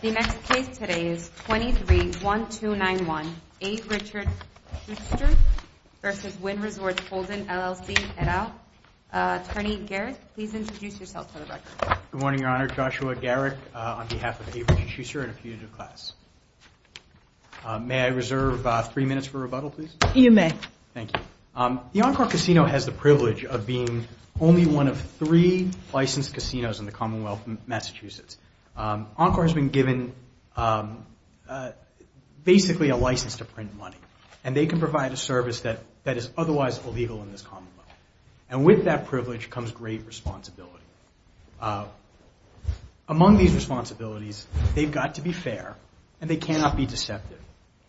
The next case today is 23-1291 A. Richard Schuster v. Wynn Resorts Holdings, LLC, et al. Attorney Garrett, please introduce yourself for the record. Good morning, Your Honor. Joshua Garrett on behalf of A. Richard Schuster and a few of your class. May I reserve three minutes for rebuttal, please? You may. Thank you. The Encore Casino has the privilege of being only one of three licensed casinos in the Commonwealth of Massachusetts. Encore has been given basically a license to print money. And they can provide a service that is otherwise illegal in this Commonwealth. And with that privilege comes great responsibility. Among these responsibilities, they've got to be fair and they cannot be deceptive.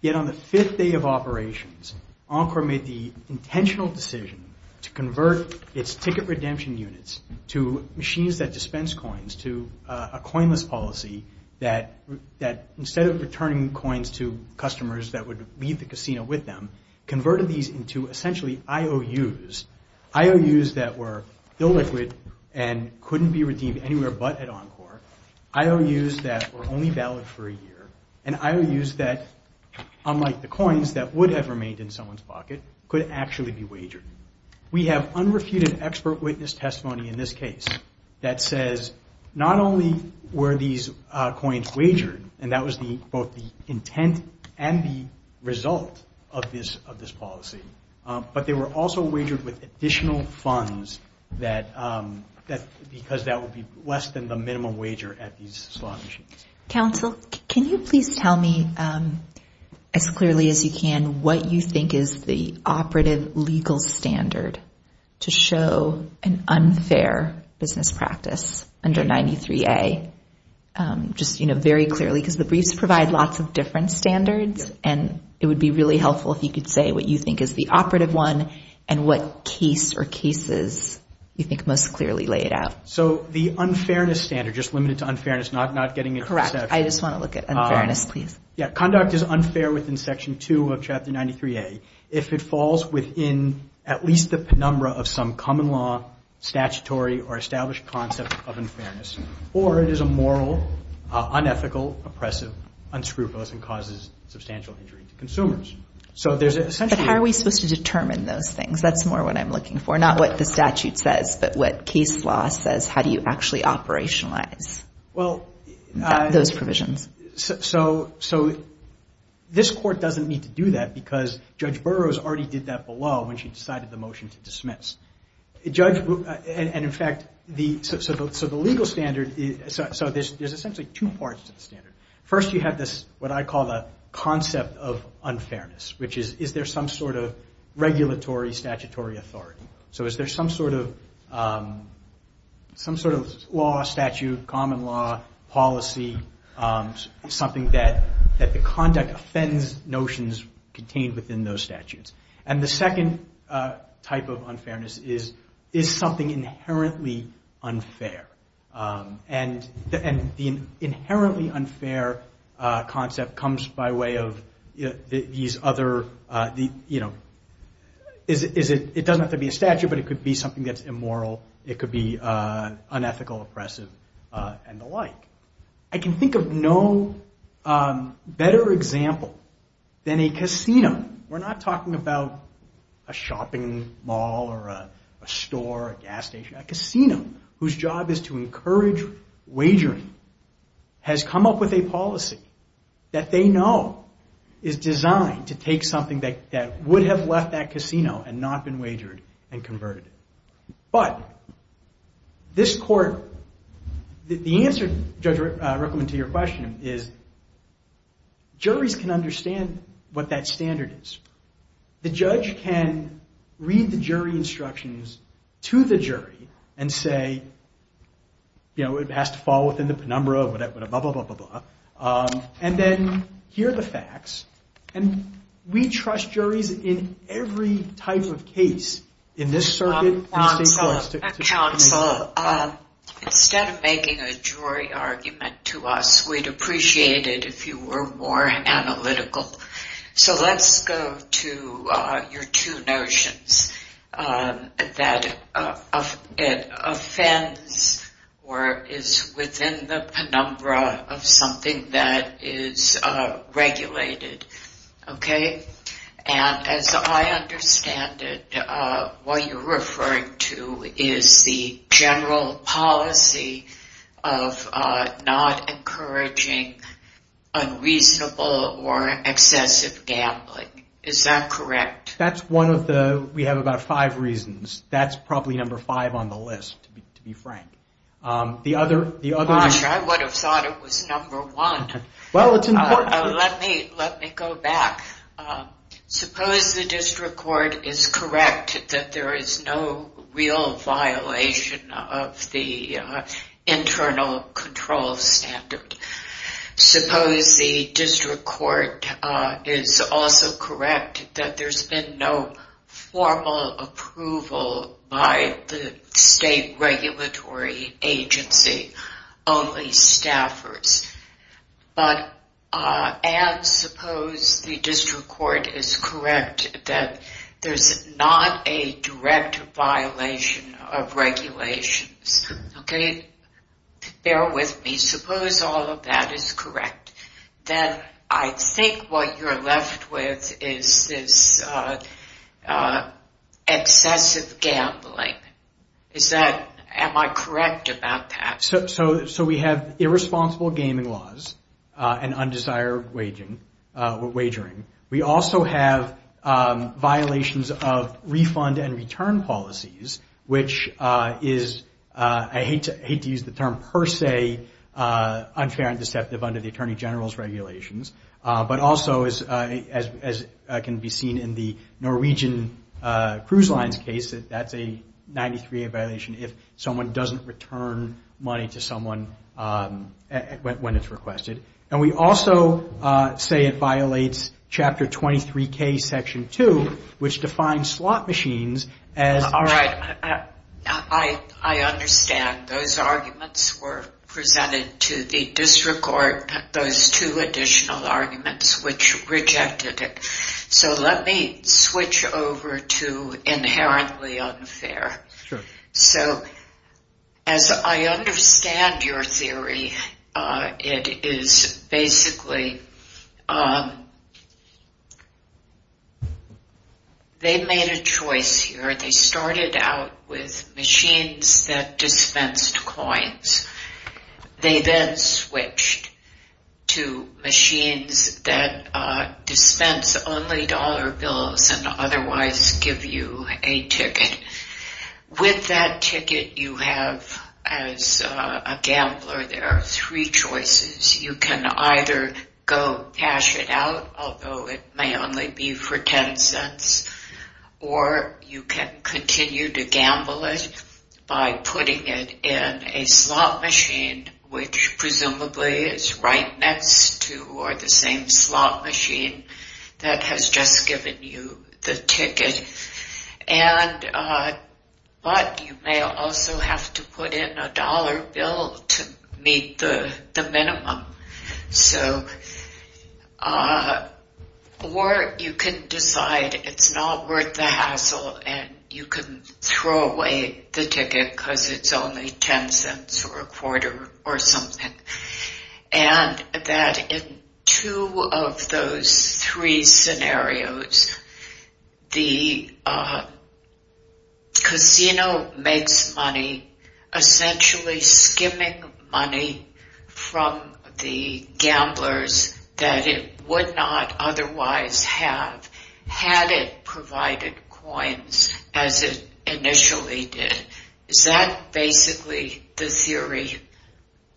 Yet on the fifth day of operations, Encore made the intentional decision to convert its ticket redemption units to machines that dispense coins to a coinless policy that instead of returning coins to customers that would leave the casino with them, converted these into essentially IOUs. IOUs that were illiquid and couldn't be redeemed anywhere but at Encore. IOUs that were only valid for a year. And IOUs that, unlike the coins that would have remained in someone's pocket, could actually be wagered. We have unrefuted expert witness testimony in this case that says not only were these coins wagered, and that was both the intent and the result of this policy, but they were also wagered with additional funds because that would be less than the minimum wager at these slot machines. Counsel, can you please tell me as clearly as you can what you think is the operative legal standard to show an unfair business practice under 93A? Just, you know, very clearly because the briefs provide lots of different standards and it would be really helpful if you could say what you think is the operative one and what case or cases you think most clearly lay it out. So the unfairness standard, just limited to unfairness, not getting into sections. Correct. I just want to look at unfairness, please. Yeah. Conduct is unfair within Section 2 of Chapter 93A if it falls within at least the penumbra of some common law, statutory, or established concept of unfairness, or it is immoral, unethical, oppressive, unscrupulous, and causes substantial injury to consumers. But how are we supposed to determine those things? That's more what I'm looking for. Not what the statute says, but what case law says, how do you actually operationalize those provisions? So this Court doesn't need to do that because Judge Burroughs already did that below when she decided the motion to dismiss. And in fact, so the legal standard, so there's essentially two parts to the standard. First, you have this, what I call the concept of unfairness, which is, is there some sort of regulatory statutory authority? So is there some sort of law, statute, common law, policy, something that the conduct offends notions contained within those statutes? And the second type of unfairness is, is something inherently unfair? And the inherently unfair concept comes by way of these other, you know, it doesn't have to be a statute, but it could be something that's immoral, it could be unethical, oppressive, and the like. I can think of no better example than a casino. We're not talking about a shopping mall or a store, a gas station. A casino whose job is to encourage wagering has come up with a policy that they know is designed to take something that would have left that casino and not been wagered and converted. But this Court, the answer, Judge Rickleman, to your question is, juries can understand what that standard is. The judge can read the jury instructions to the jury and say, you know, it has to fall within the penumbra, blah, blah, blah, blah, blah, blah, and then hear the facts. And we trust juries in every type of case in this circuit. Counsel, instead of making a jury argument to us, we'd appreciate it if you were more analytical. So let's go to your two notions, that it offends or is within the penumbra of something that is regulated, okay? And as I understand it, what you're referring to is the general policy of not encouraging unreasonable or excessive gambling. Is that correct? That's one of the, we have about five reasons. That's probably number five on the list, to be frank. Gosh, I would have thought it was number one. Well, it's important. Let me go back. Suppose the District Court is correct that there is no real violation of the internal control standard. Suppose the District Court is also correct that there's been no formal approval by the state regulatory agency, only staffers. And suppose the District Court is correct that there's not a direct violation of regulations, okay? Bear with me. Suppose all of that is correct. Then I think what you're left with is this excessive gambling. Is that, am I correct about that? So we have irresponsible gaming laws and undesired wagering. We also have violations of refund and return policies, which is, I hate to use the term per se, unfair and deceptive under the Attorney General's regulations. But also, as can be seen in the Norwegian Cruise Lines case, that's a 93A violation if someone doesn't return money to someone when it's requested. And we also say it violates Chapter 23K, Section 2, which defines slot machines as All right. I understand. Those arguments were presented to the District Court, those two additional arguments which rejected it. So let me switch over to inherently unfair. Sure. So as I understand your theory, it is basically they made a choice here. They started out with machines that dispensed coins. They then switched to machines that dispense only dollar bills and otherwise give you a ticket. With that ticket you have, as a gambler, there are three choices. You can either go cash it out, although it may only be for ten cents, or you can continue to gamble it by putting it in a slot machine, which presumably is right next to or the same slot machine that has just given you the ticket. But you may also have to put in a dollar bill to meet the minimum. Or you can decide it's not worth the hassle and you can throw away the ticket because it's only ten cents or a quarter or something. And that in two of those three scenarios, the casino makes money essentially skimming money from the gamblers that it would not otherwise have had it provided coins as it initially did. Is that basically the theory?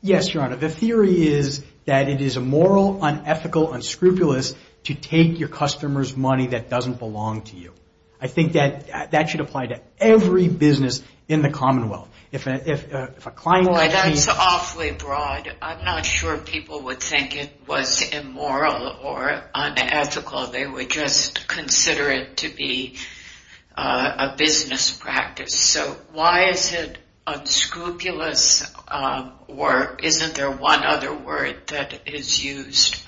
Yes, Your Honor. The theory is that it is immoral, unethical, unscrupulous to take your customer's money that doesn't belong to you. I think that should apply to every business in the Commonwealth. If a client calls me... Boy, that's awfully broad. I'm not sure people would think it was immoral or unethical. They would just consider it to be a business practice. So why is it unscrupulous or isn't there one other word that is used?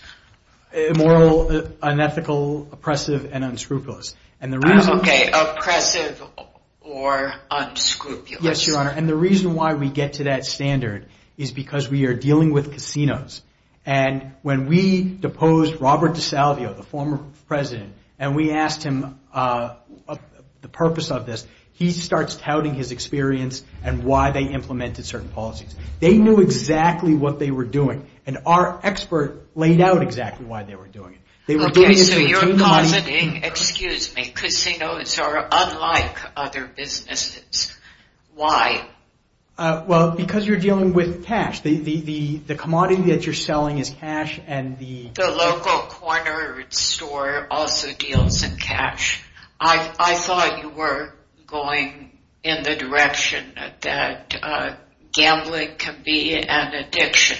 Immoral, unethical, oppressive, and unscrupulous. Okay, oppressive or unscrupulous. Yes, Your Honor. And the reason why we get to that standard is because we are dealing with casinos. And when we deposed Robert DeSalvio, the former president, and we asked him the purpose of this, he starts touting his experience and why they implemented certain policies. They knew exactly what they were doing. And our expert laid out exactly why they were doing it. Okay, so you're accusing, excuse me, casinos are unlike other businesses. Why? Well, because you're dealing with cash. The commodity that you're selling is cash and the... I thought you were going in the direction that gambling can be an addiction.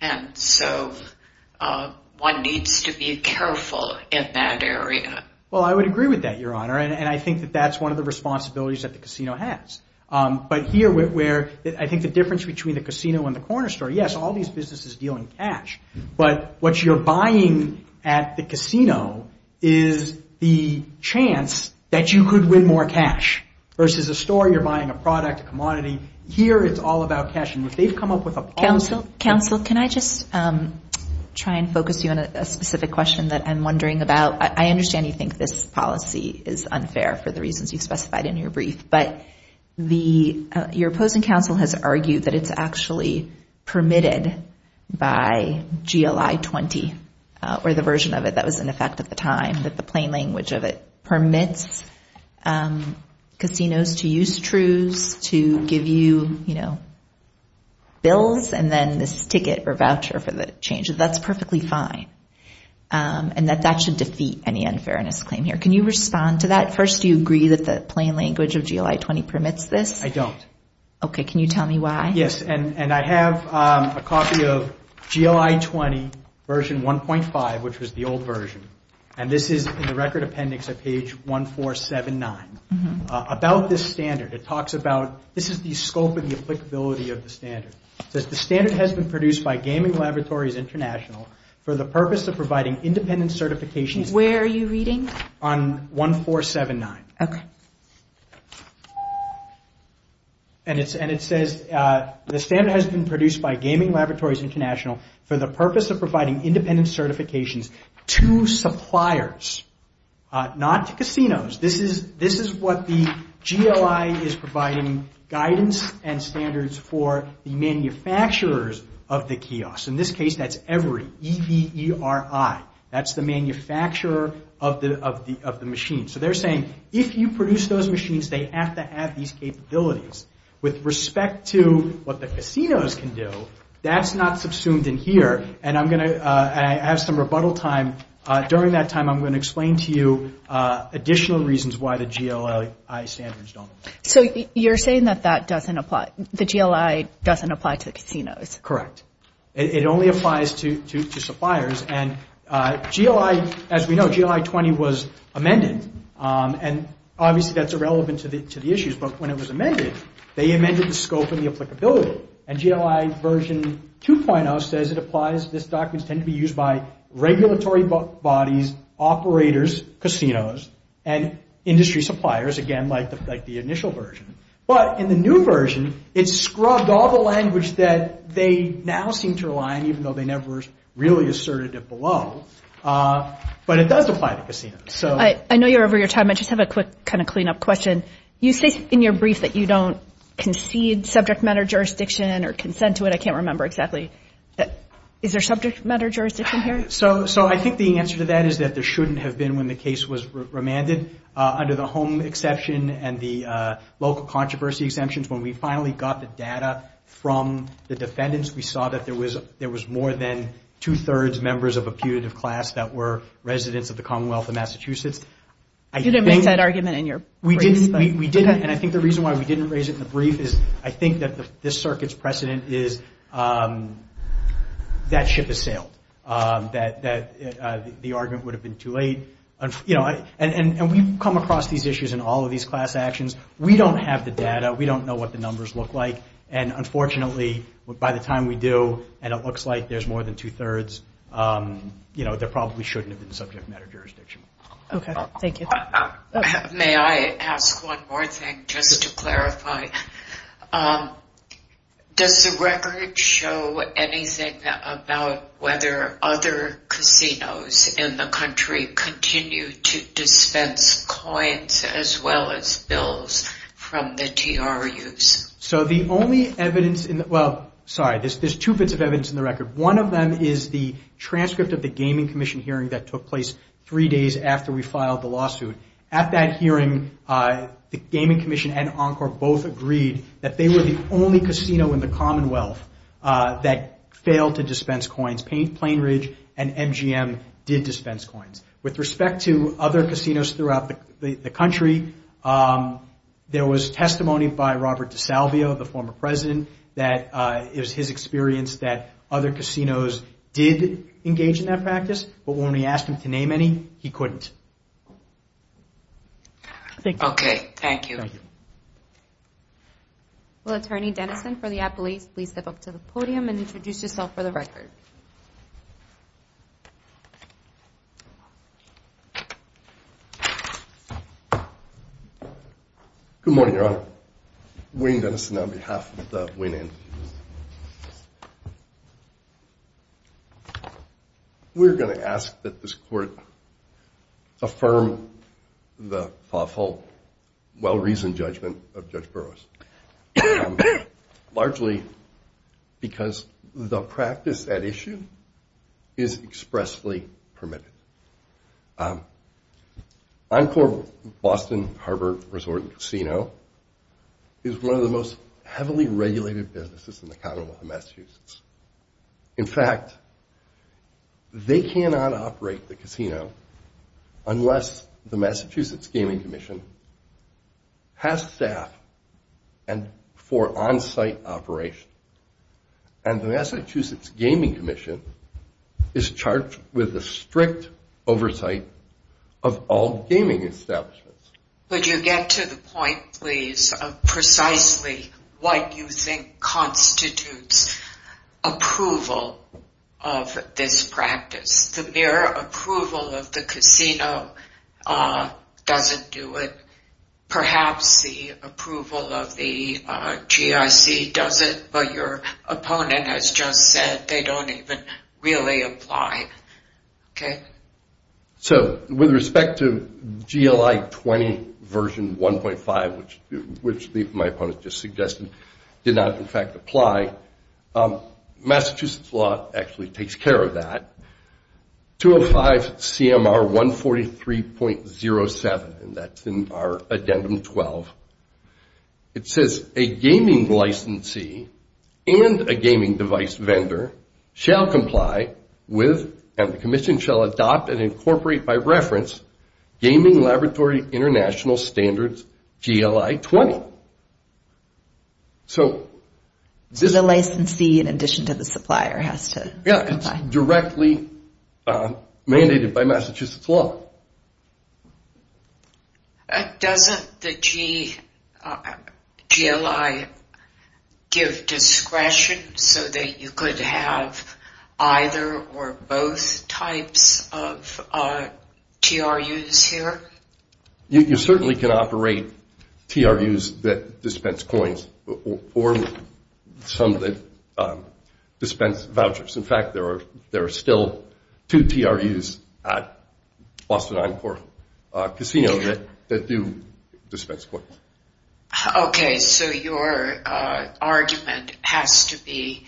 And so one needs to be careful in that area. Well, I would agree with that, Your Honor. And I think that that's one of the responsibilities that the casino has. But here where I think the difference between the casino and the corner store, yes, all these businesses deal in cash. But what you're buying at the casino is the chance that you could win more cash versus a store you're buying a product, a commodity. Here it's all about cash. And if they've come up with a policy... Counsel, can I just try and focus you on a specific question that I'm wondering about? I understand you think this policy is unfair for the reasons you've specified in your brief. But your opposing counsel has argued that it's actually permitted by GLI-20, or the version of it that was in effect at the time, that the plain language of it permits casinos to use trues to give you bills and then this ticket or voucher for the change. That's perfectly fine. And that that should defeat any unfairness claim here. Can you respond to that? First, do you agree that the plain language of GLI-20 permits this? I don't. Okay, can you tell me why? Yes, and I have a copy of GLI-20 version 1.5, which was the old version. And this is in the record appendix at page 1479 about this standard. It talks about this is the scope and the applicability of the standard. It says, The standard has been produced by Gaming Laboratories International for the purpose of providing independent certifications... Where are you reading? On 1479. Okay. And it says, The standard has been produced by Gaming Laboratories International for the purpose of providing independent certifications to suppliers, not to casinos. This is what the GLI is providing, guidance and standards for the manufacturers of the kiosk. In this case, that's EVERI, E-V-E-R-I. That's the manufacturer of the machine. So they're saying if you produce those machines, they have to have these capabilities. With respect to what the casinos can do, that's not subsumed in here. And I'm going to have some rebuttal time. During that time, I'm going to explain to you additional reasons why the GLI standards don't apply. So you're saying that that doesn't apply, the GLI doesn't apply to the casinos. Correct. It only applies to suppliers. And GLI, as we know, GLI-20 was amended. And obviously, that's irrelevant to the issues. But when it was amended, they amended the scope and the applicability. And GLI version 2.0 says it applies, this documents tend to be used by regulatory bodies, operators, casinos, and industry suppliers, again, like the initial version. But in the new version, it scrubbed all the language that they now seem to rely on, even though they never really asserted it below. But it does apply to casinos. I know you're over your time. I just have a quick kind of clean-up question. You say in your brief that you don't concede subject matter jurisdiction or consent to it. I can't remember exactly. Is there subject matter jurisdiction here? So I think the answer to that is that there shouldn't have been when the case was remanded. Under the home exception and the local controversy exemptions, when we finally got the data from the defendants, we saw that there was more than two-thirds members of a putative class that were residents of the Commonwealth of Massachusetts. You didn't make that argument in your brief. We didn't, and I think the reason why we didn't raise it in the brief is I think that this circuit's precedent is that ship has sailed, that the argument would have been too late. And we've come across these issues in all of these class actions. We don't have the data. We don't know what the numbers look like. And unfortunately, by the time we do, and it looks like there's more than two-thirds, there probably shouldn't have been subject matter jurisdiction. Okay. Thank you. May I ask one more thing just to clarify? Does the record show anything about whether other casinos in the country continue to dispense coins as well as bills from the TRUs? So the only evidence in the – well, sorry, there's two bits of evidence in the record. One of them is the transcript of the Gaming Commission hearing that took place three days after we filed the lawsuit. At that hearing, the Gaming Commission and Encore both agreed that they were the only casino in the Commonwealth that failed to dispense coins. Plainridge and MGM did dispense coins. With respect to other casinos throughout the country, there was testimony by Robert DeSalvio, the former president, that it was his experience that other casinos did engage in that practice, but when we asked him to name any, he couldn't. Okay. Thank you. Thank you. Will Attorney Dennison for the appellate please step up to the podium and introduce yourself for the record? Good morning, Your Honor. Wayne Dennison on behalf of the Wayne Enfield. We're going to ask that this court affirm the thoughtful, well-reasoned judgment of Judge Burroughs, largely because the practice at issue is expressly permitted. Encore Boston Harbor Resort and Casino is one of the most heavily regulated businesses in the Commonwealth of Massachusetts. In fact, they cannot operate the casino unless the Massachusetts Gaming Commission has staff for on-site operation, and the Massachusetts Gaming Commission is charged with a strict oversight of all gaming establishments. Could you get to the point, please, of precisely what you think constitutes approval of this practice? The mere approval of the casino doesn't do it. Perhaps the approval of the GIC does it, but your opponent has just said they don't even really apply. Okay. So with respect to GLI 20 version 1.5, which my opponent just suggested, did not in fact apply, Massachusetts law actually takes care of that. 205 CMR 143.07, and that's in our addendum 12. It says, a gaming licensee and a gaming device vendor shall comply with, and the commission shall adopt and incorporate by reference, Gaming Laboratory International Standards GLI 20. So the licensee, in addition to the supplier, has to comply. And that's directly mandated by Massachusetts law. Doesn't the GLI give discretion so that you could have either or both types of TRUs here? You certainly can operate TRUs that dispense coins or some that dispense vouchers. In fact, there are still two TRUs at Boston Encore Casino that do dispense coins. Okay. So your argument has to be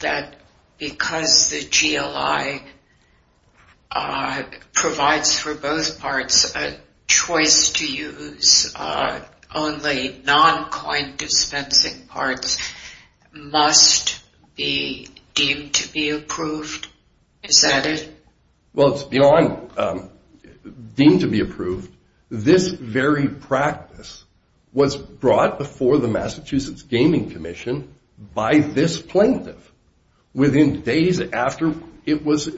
that because the GLI provides for both parts, a choice to use only non-coin dispensing parts must be deemed to be approved. Is that it? Well, it's beyond deemed to be approved. This very practice was brought before the Massachusetts Gaming Commission by this plaintiff within days after it was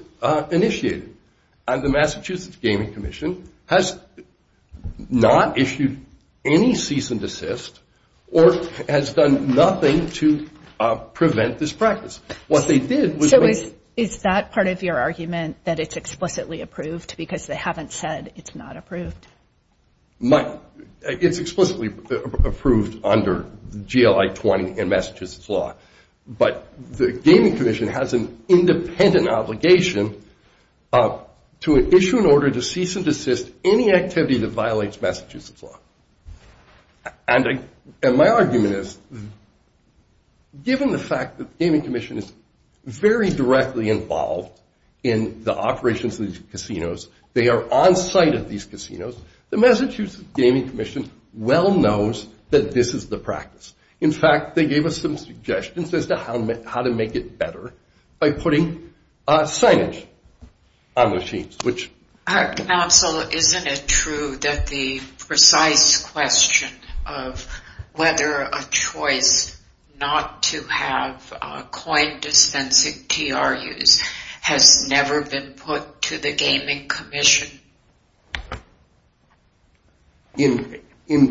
initiated. And the Massachusetts Gaming Commission has not issued any cease and desist or has done nothing to prevent this practice. What they did was they – So is that part of your argument that it's explicitly approved because they haven't said it's not approved? It's explicitly approved under GLI 20 and Massachusetts law. But the Gaming Commission has an independent obligation to issue an order to cease and desist any activity that violates Massachusetts law. And my argument is given the fact that the Gaming Commission is very directly involved in the operations of these casinos, they are onsite of these casinos, the Massachusetts Gaming Commission well knows that this is the practice. In fact, they gave us some suggestions as to how to make it better by putting signage on the sheets, which – Counsel, isn't it true that the precise question of whether a choice not to have coin dispensing TRUs has never been put to the Gaming Commission? In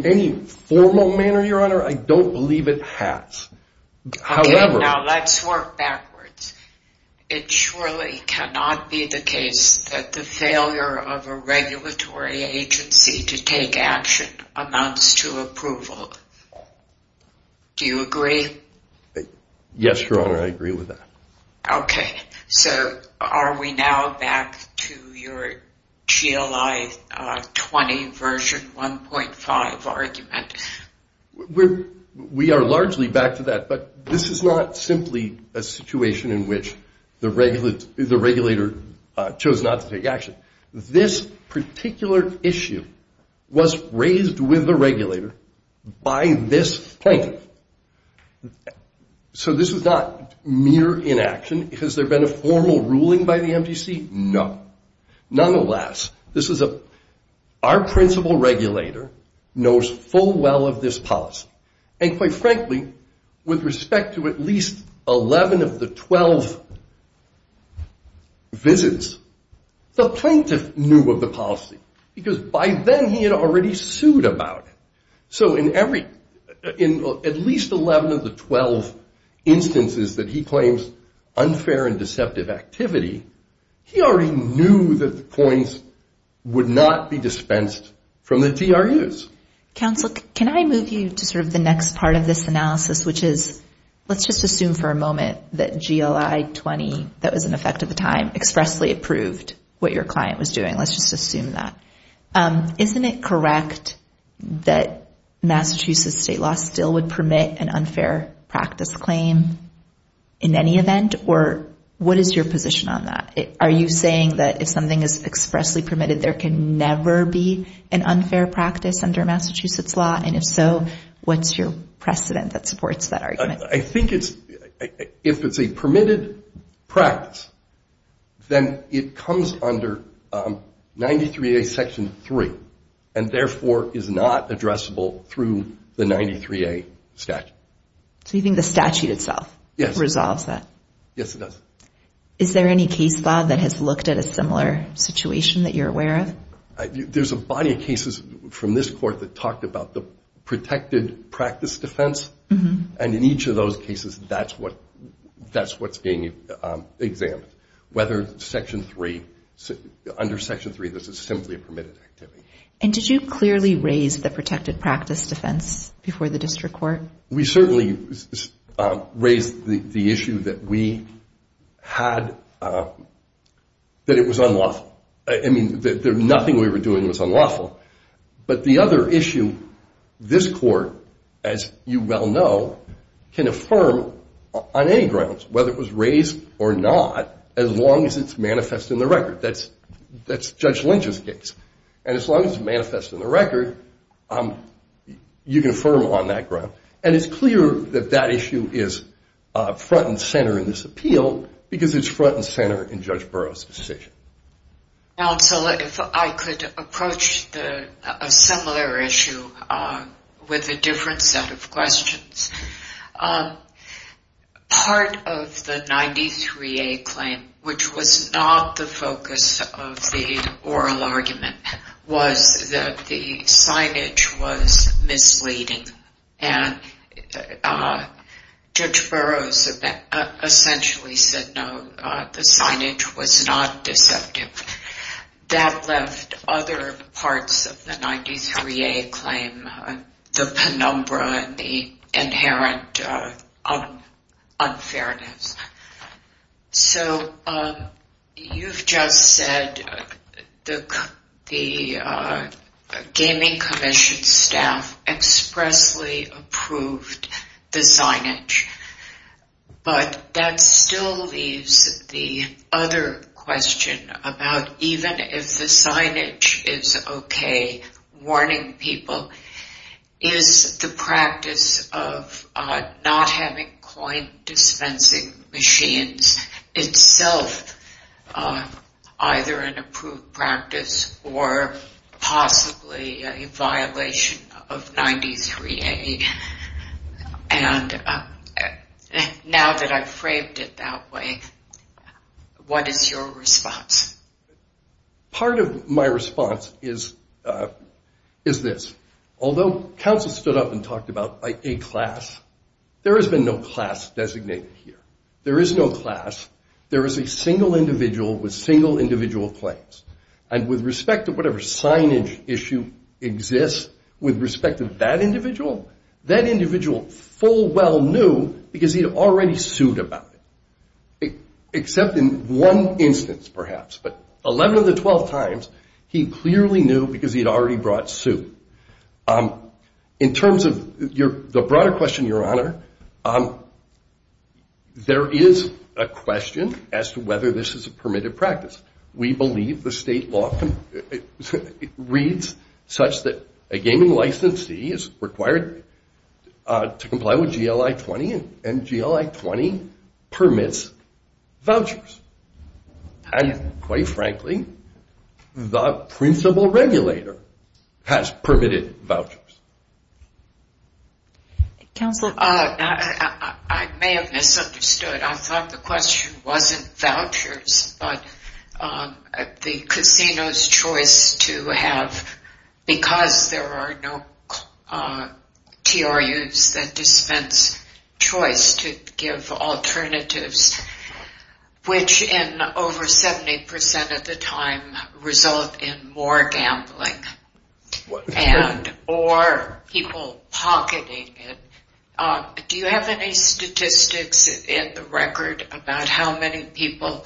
any formal manner, Your Honor, I don't believe it has. Okay, now let's work backwards. It surely cannot be the case that the failure of a regulatory agency to take action amounts to approval. Do you agree? Yes, Your Honor, I agree with that. Okay, so are we now back to your GLI 20 version 1.5 argument? We are largely back to that. But this is not simply a situation in which the regulator chose not to take action. This particular issue was raised with the regulator by this plaintiff. So this was not mere inaction. Has there been a formal ruling by the MTC? No. Nonetheless, our principal regulator knows full well of this policy. And quite frankly, with respect to at least 11 of the 12 visits, the plaintiff knew of the policy because by then he had already sued about it. So in at least 11 of the 12 instances that he claims unfair and deceptive activity, he already knew that the coins would not be dispensed from the TRUs. Counsel, can I move you to sort of the next part of this analysis, which is let's just assume for a moment that GLI 20, that was in effect at the time, expressly approved what your client was doing. Let's just assume that. Isn't it correct that Massachusetts state law still would permit an unfair practice claim in any event? Or what is your position on that? Are you saying that if something is expressly permitted, there can never be an unfair practice under Massachusetts law? And if so, what's your precedent that supports that argument? I think if it's a permitted practice, then it comes under 93A Section 3 and therefore is not addressable through the 93A statute. So you think the statute itself resolves that? Yes, it does. Is there any case, Bob, that has looked at a similar situation that you're aware of? There's a body of cases from this court that talked about the protected practice defense and in each of those cases, that's what's being examined. Whether Section 3, under Section 3, this is simply a permitted activity. And did you clearly raise the protected practice defense before the district court? We certainly raised the issue that we had, that it was unlawful. I mean, nothing we were doing was unlawful. But the other issue, this court, as you well know, can affirm on any grounds, whether it was raised or not, as long as it's manifest in the record. That's Judge Lynch's case. And as long as it's manifest in the record, you can affirm on that ground. And it's clear that that issue is front and center in this appeal because it's front and center in Judge Burroughs' decision. Counsel, if I could approach a similar issue with a different set of questions. Part of the 93A claim, which was not the focus of the oral argument, was that the signage was misleading. And Judge Burroughs essentially said, no, the signage was not deceptive. That left other parts of the 93A claim the penumbra and the inherent unfairness. So you've just said the Gaming Commission staff expressly approved the signage. But that still leaves the other question about even if the signage is okay, warning people, is the practice of not having coin dispensing machines itself either an approved practice or possibly a violation of 93A? And now that I've framed it that way, what is your response? Part of my response is this. Although counsel stood up and talked about a class, there has been no class designated here. There is no class. There is a single individual with single individual claims. And with respect to whatever signage issue exists with respect to that individual, that individual full well knew because he had already sued about it. Except in one instance perhaps. But 11 of the 12 times, he clearly knew because he had already brought suit. In terms of the broader question, Your Honor, there is a question as to whether this is a permitted practice. We believe the state law reads such that a gaming licensee is required to comply with GLI-20 and GLI-20 permits vouchers. And quite frankly, the principal regulator has permitted vouchers. Counselor? I may have misunderstood. I thought the question wasn't vouchers but the casino's choice to have, because there are no TRUs that dispense choice to give alternatives, which in over 70% of the time result in more gambling. Or people pocketing it. Do you have any statistics in the record about how many people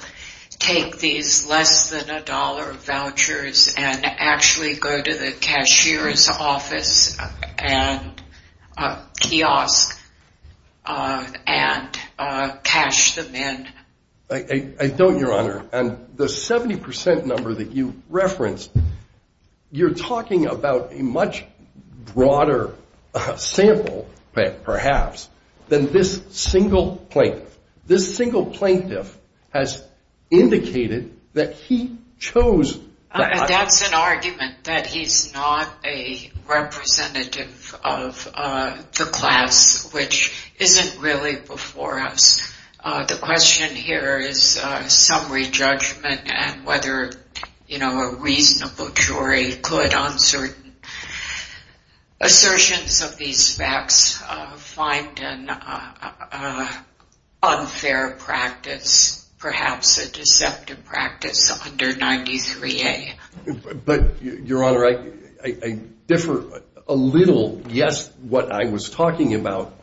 take these less than a dollar vouchers and actually go to the cashier's office and kiosk and cash them in? I don't, Your Honor. And the 70% number that you referenced, you're talking about a much broader sample perhaps than this single plaintiff. This single plaintiff has indicated that he chose. That's an argument that he's not a representative of the class, which isn't really before us. The question here is summary judgment and whether, you know, a reasonable jury could on certain assertions of these facts find an unfair practice, perhaps a deceptive practice under 93A. But, Your Honor, I differ a little. Yes, what I was talking about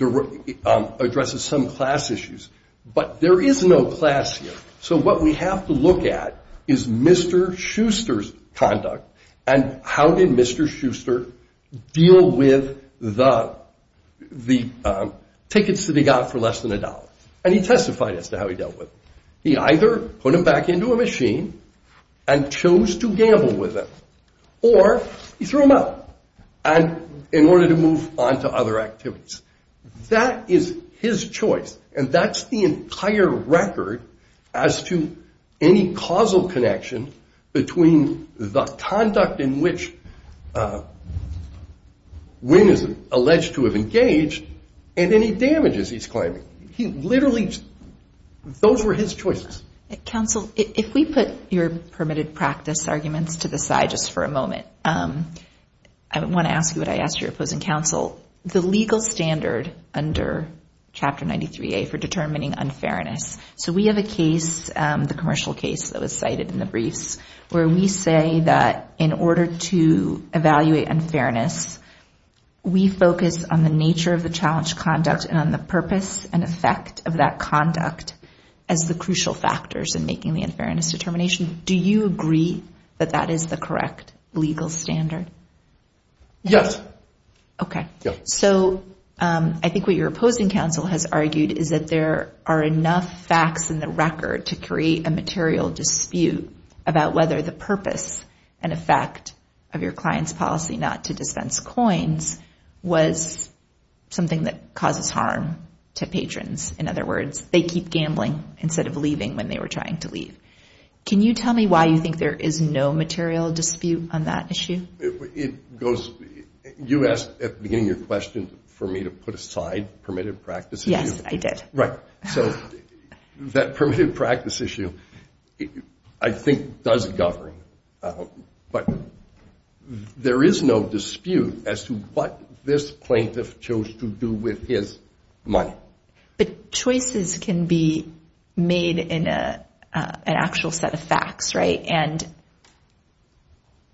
addresses some class issues, but there is no class here. So what we have to look at is Mr. Schuster's conduct and how did Mr. Schuster deal with the tickets that he got for less than a dollar. And he testified as to how he dealt with it. He either put them back into a machine and chose to gamble with them, or he threw them out in order to move on to other activities. That is his choice. And that's the entire record as to any causal connection between the conduct in which Wynn is alleged to have engaged and any damages he's claiming. Literally, those were his choices. Counsel, if we put your permitted practice arguments to the side just for a moment, I want to ask you what I asked your opposing counsel. The legal standard under Chapter 93A for determining unfairness. So we have a case, the commercial case that was cited in the briefs, where we say that in order to evaluate unfairness, we focus on the nature of the challenged conduct and on the purpose and effect of that conduct as the crucial factors in making the unfairness determination. Do you agree that that is the correct legal standard? Yes. Okay. So I think what your opposing counsel has argued is that there are enough facts in the record to create a material dispute about whether the purpose and effect of your client's policy not to dispense coins was something that causes harm to patrons. In other words, they keep gambling instead of leaving when they were trying to leave. Can you tell me why you think there is no material dispute on that issue? You asked at the beginning of your question for me to put aside permitted practice. Yes, I did. Right. So that permitted practice issue, I think, does govern. But there is no dispute as to what this plaintiff chose to do with his money. But choices can be made in an actual set of facts, right? And,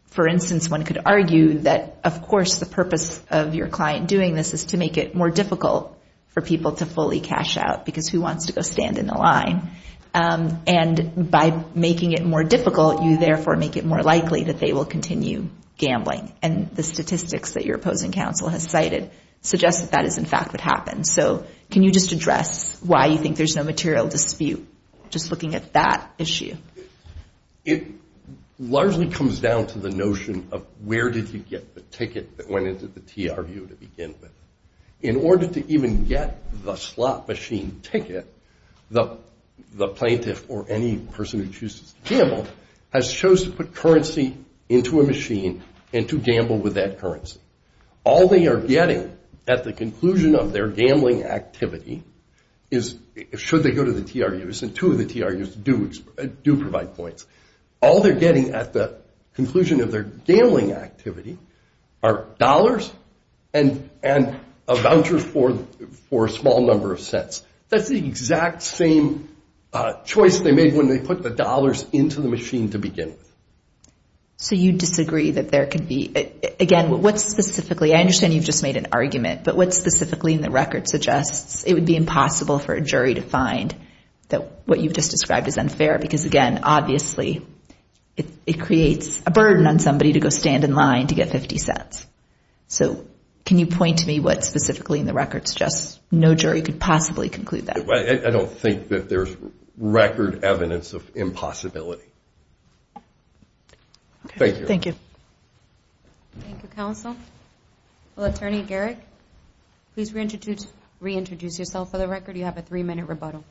for instance, one could argue that, of course, the purpose of your client doing this is to make it more difficult for people to fully cash out because who wants to go stand in the line? And by making it more difficult, you therefore make it more likely that they will continue gambling. And the statistics that your opposing counsel has cited suggest that that is, in fact, what happens. So can you just address why you think there's no material dispute just looking at that issue? It largely comes down to the notion of where did you get the ticket that went into the TRU to begin with. In order to even get the slot machine ticket, the plaintiff or any person who chooses to gamble has chose to put currency into a machine and to gamble with that currency. All they are getting at the conclusion of their gambling activity is should they go to the TRU. And two of the TRUs do provide points. All they're getting at the conclusion of their gambling activity are dollars and a voucher for a small number of sets. That's the exact same choice they made when they put the dollars into the machine to begin with. So you disagree that there could be, again, what specifically, I understand you've just made an argument, but what specifically in the record suggests it would be impossible for a jury to find that what you've just described is unfair? Because, again, obviously it creates a burden on somebody to go stand in line to get 50 cents. So can you point to me what specifically in the record suggests no jury could possibly conclude that? I don't think that there's record evidence of impossibility. Thank you. Thank you, counsel. Well, Attorney Garrick, please reintroduce yourself for the record. You have a three-minute rebuttal.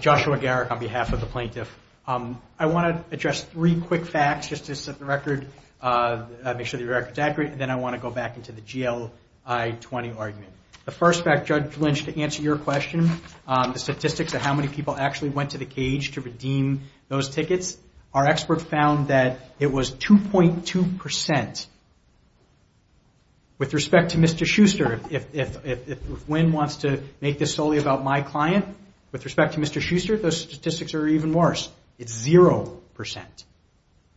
Joshua Garrick on behalf of the plaintiff. I want to address three quick facts just to set the record, make sure the record's accurate, and then I want to go back into the GLI-20 argument. The first fact, Judge Lynch, to answer your question, the statistics of how many people actually went to the cage to redeem those tickets, our experts found that it was 2.2%. With respect to Mr. Schuster, if Wynn wants to make this solely about my client, with respect to Mr. Schuster, those statistics are even worse. It's 0%.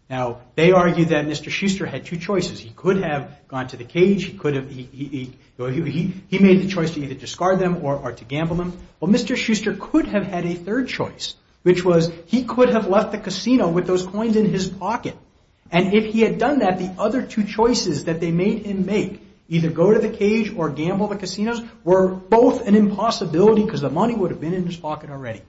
Now, they argue that Mr. Schuster had two choices. He could have gone to the cage. He made the choice to either discard them or to gamble them. Well, Mr. Schuster could have had a third choice, which was he could have left the casino with those coins in his pocket. And if he had done that, the other two choices that they made him make, either go to the cage or gamble the casinos, were both an impossibility because the money would have been in his pocket already.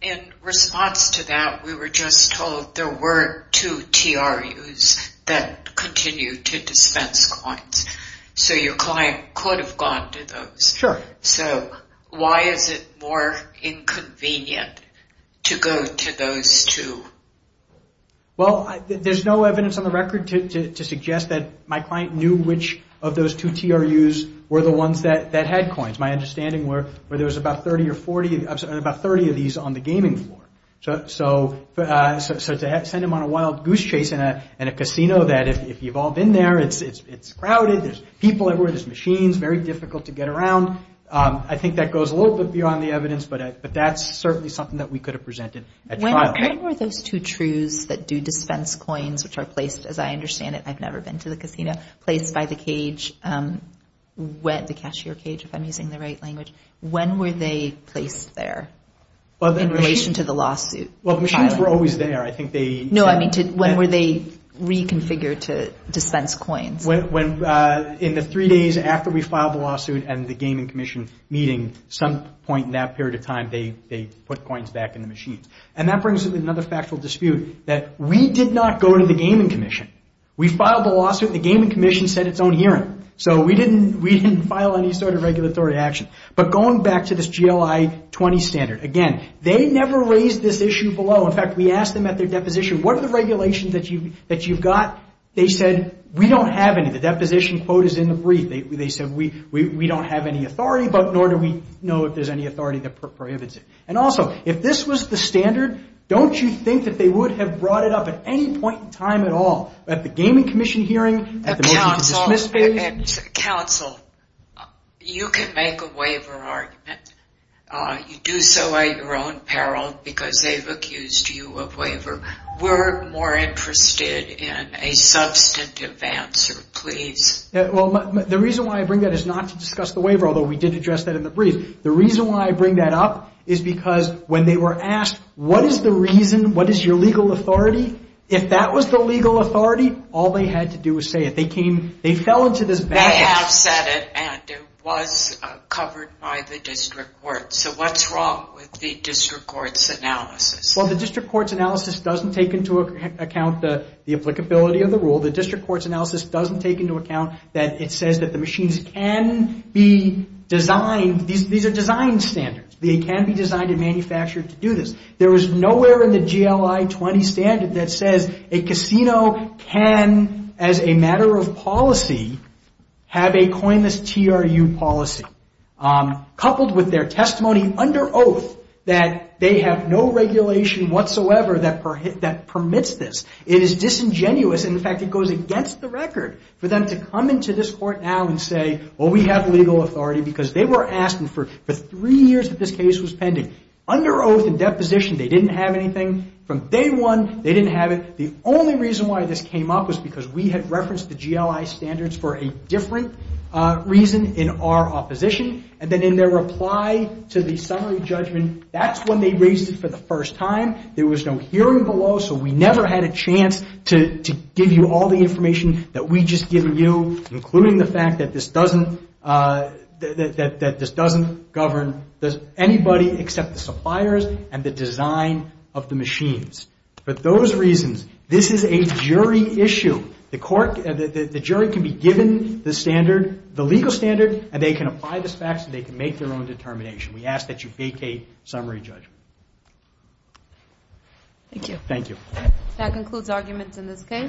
In response to that, we were just told there were two TRUs that continued to dispense coins. So your client could have gone to those. So why is it more inconvenient to go to those two? Well, there's no evidence on the record to suggest that my client knew which of those two TRUs were the ones that had coins. My understanding were there was about 30 of these on the gaming floor. So to send him on a wild goose chase in a casino that if you've all been there, it's crowded, there's people everywhere, there's machines, very difficult to get around. I think that goes a little bit beyond the evidence, but that's certainly something that we could have presented at trial. When were those two TRUs that do dispense coins, which are placed, as I understand it, I've never been to the casino, placed by the cage, the cashier cage, if I'm using the right language, when were they placed there in relation to the lawsuit? Well, the machines were always there. No, I mean when were they reconfigured to dispense coins? In the three days after we filed the lawsuit and the gaming commission meeting, some point in that period of time they put coins back in the machines. And that brings up another factual dispute that we did not go to the gaming commission. We filed the lawsuit and the gaming commission said its own hearing. So we didn't file any sort of regulatory action. But going back to this GLI-20 standard, again, they never raised this issue below. In fact, we asked them at their deposition, what are the regulations that you've got? They said, we don't have any. The deposition quote is in the brief. They said, we don't have any authority, but nor do we know if there's any authority that prohibits it. And also, if this was the standard, don't you think that they would have brought it up at any point in time at all? At the gaming commission hearing? At the motion to dismiss hearing? Counsel, you can make a waiver argument. You do so at your own peril because they've accused you of waiver. We're more interested in a substantive answer, please. The reason why I bring that is not to discuss the waiver, although we did address that in the brief. The reason why I bring that up is because when they were asked, what is the reason? What is your legal authority? If that was the legal authority, all they had to do was say it. They fell into this baggage. They have said it, and it was covered by the district court. So what's wrong with the district court's analysis? Well, the district court's analysis doesn't take into account the applicability of the rule. The district court's analysis doesn't take into account that it says that the machines can be designed. These are design standards. They can be designed and manufactured to do this. There is nowhere in the GLI-20 standard that says a casino can, as a matter of policy, have a coinless TRU policy, coupled with their testimony under oath that they have no regulation whatsoever that permits this. It is disingenuous. In fact, it goes against the record for them to come into this court now and say, well, we have legal authority because they were asking for three years that this case was pending. Under oath and deposition, they didn't have anything. From day one, they didn't have it. The only reason why this came up was because we had referenced the GLI standards for a different reason in our opposition. And then in their reply to the summary judgment, that's when they raised it for the first time. There was no hearing below, so we never had a chance to give you all the information that we'd just given you, including the fact that this doesn't govern anybody except the suppliers and the design of the machines. For those reasons, this is a jury issue. The jury can be given the legal standard, and they can apply the facts, and they can make their own determination. We ask that you vacate summary judgment. Thank you. Thank you. That concludes arguments in this case.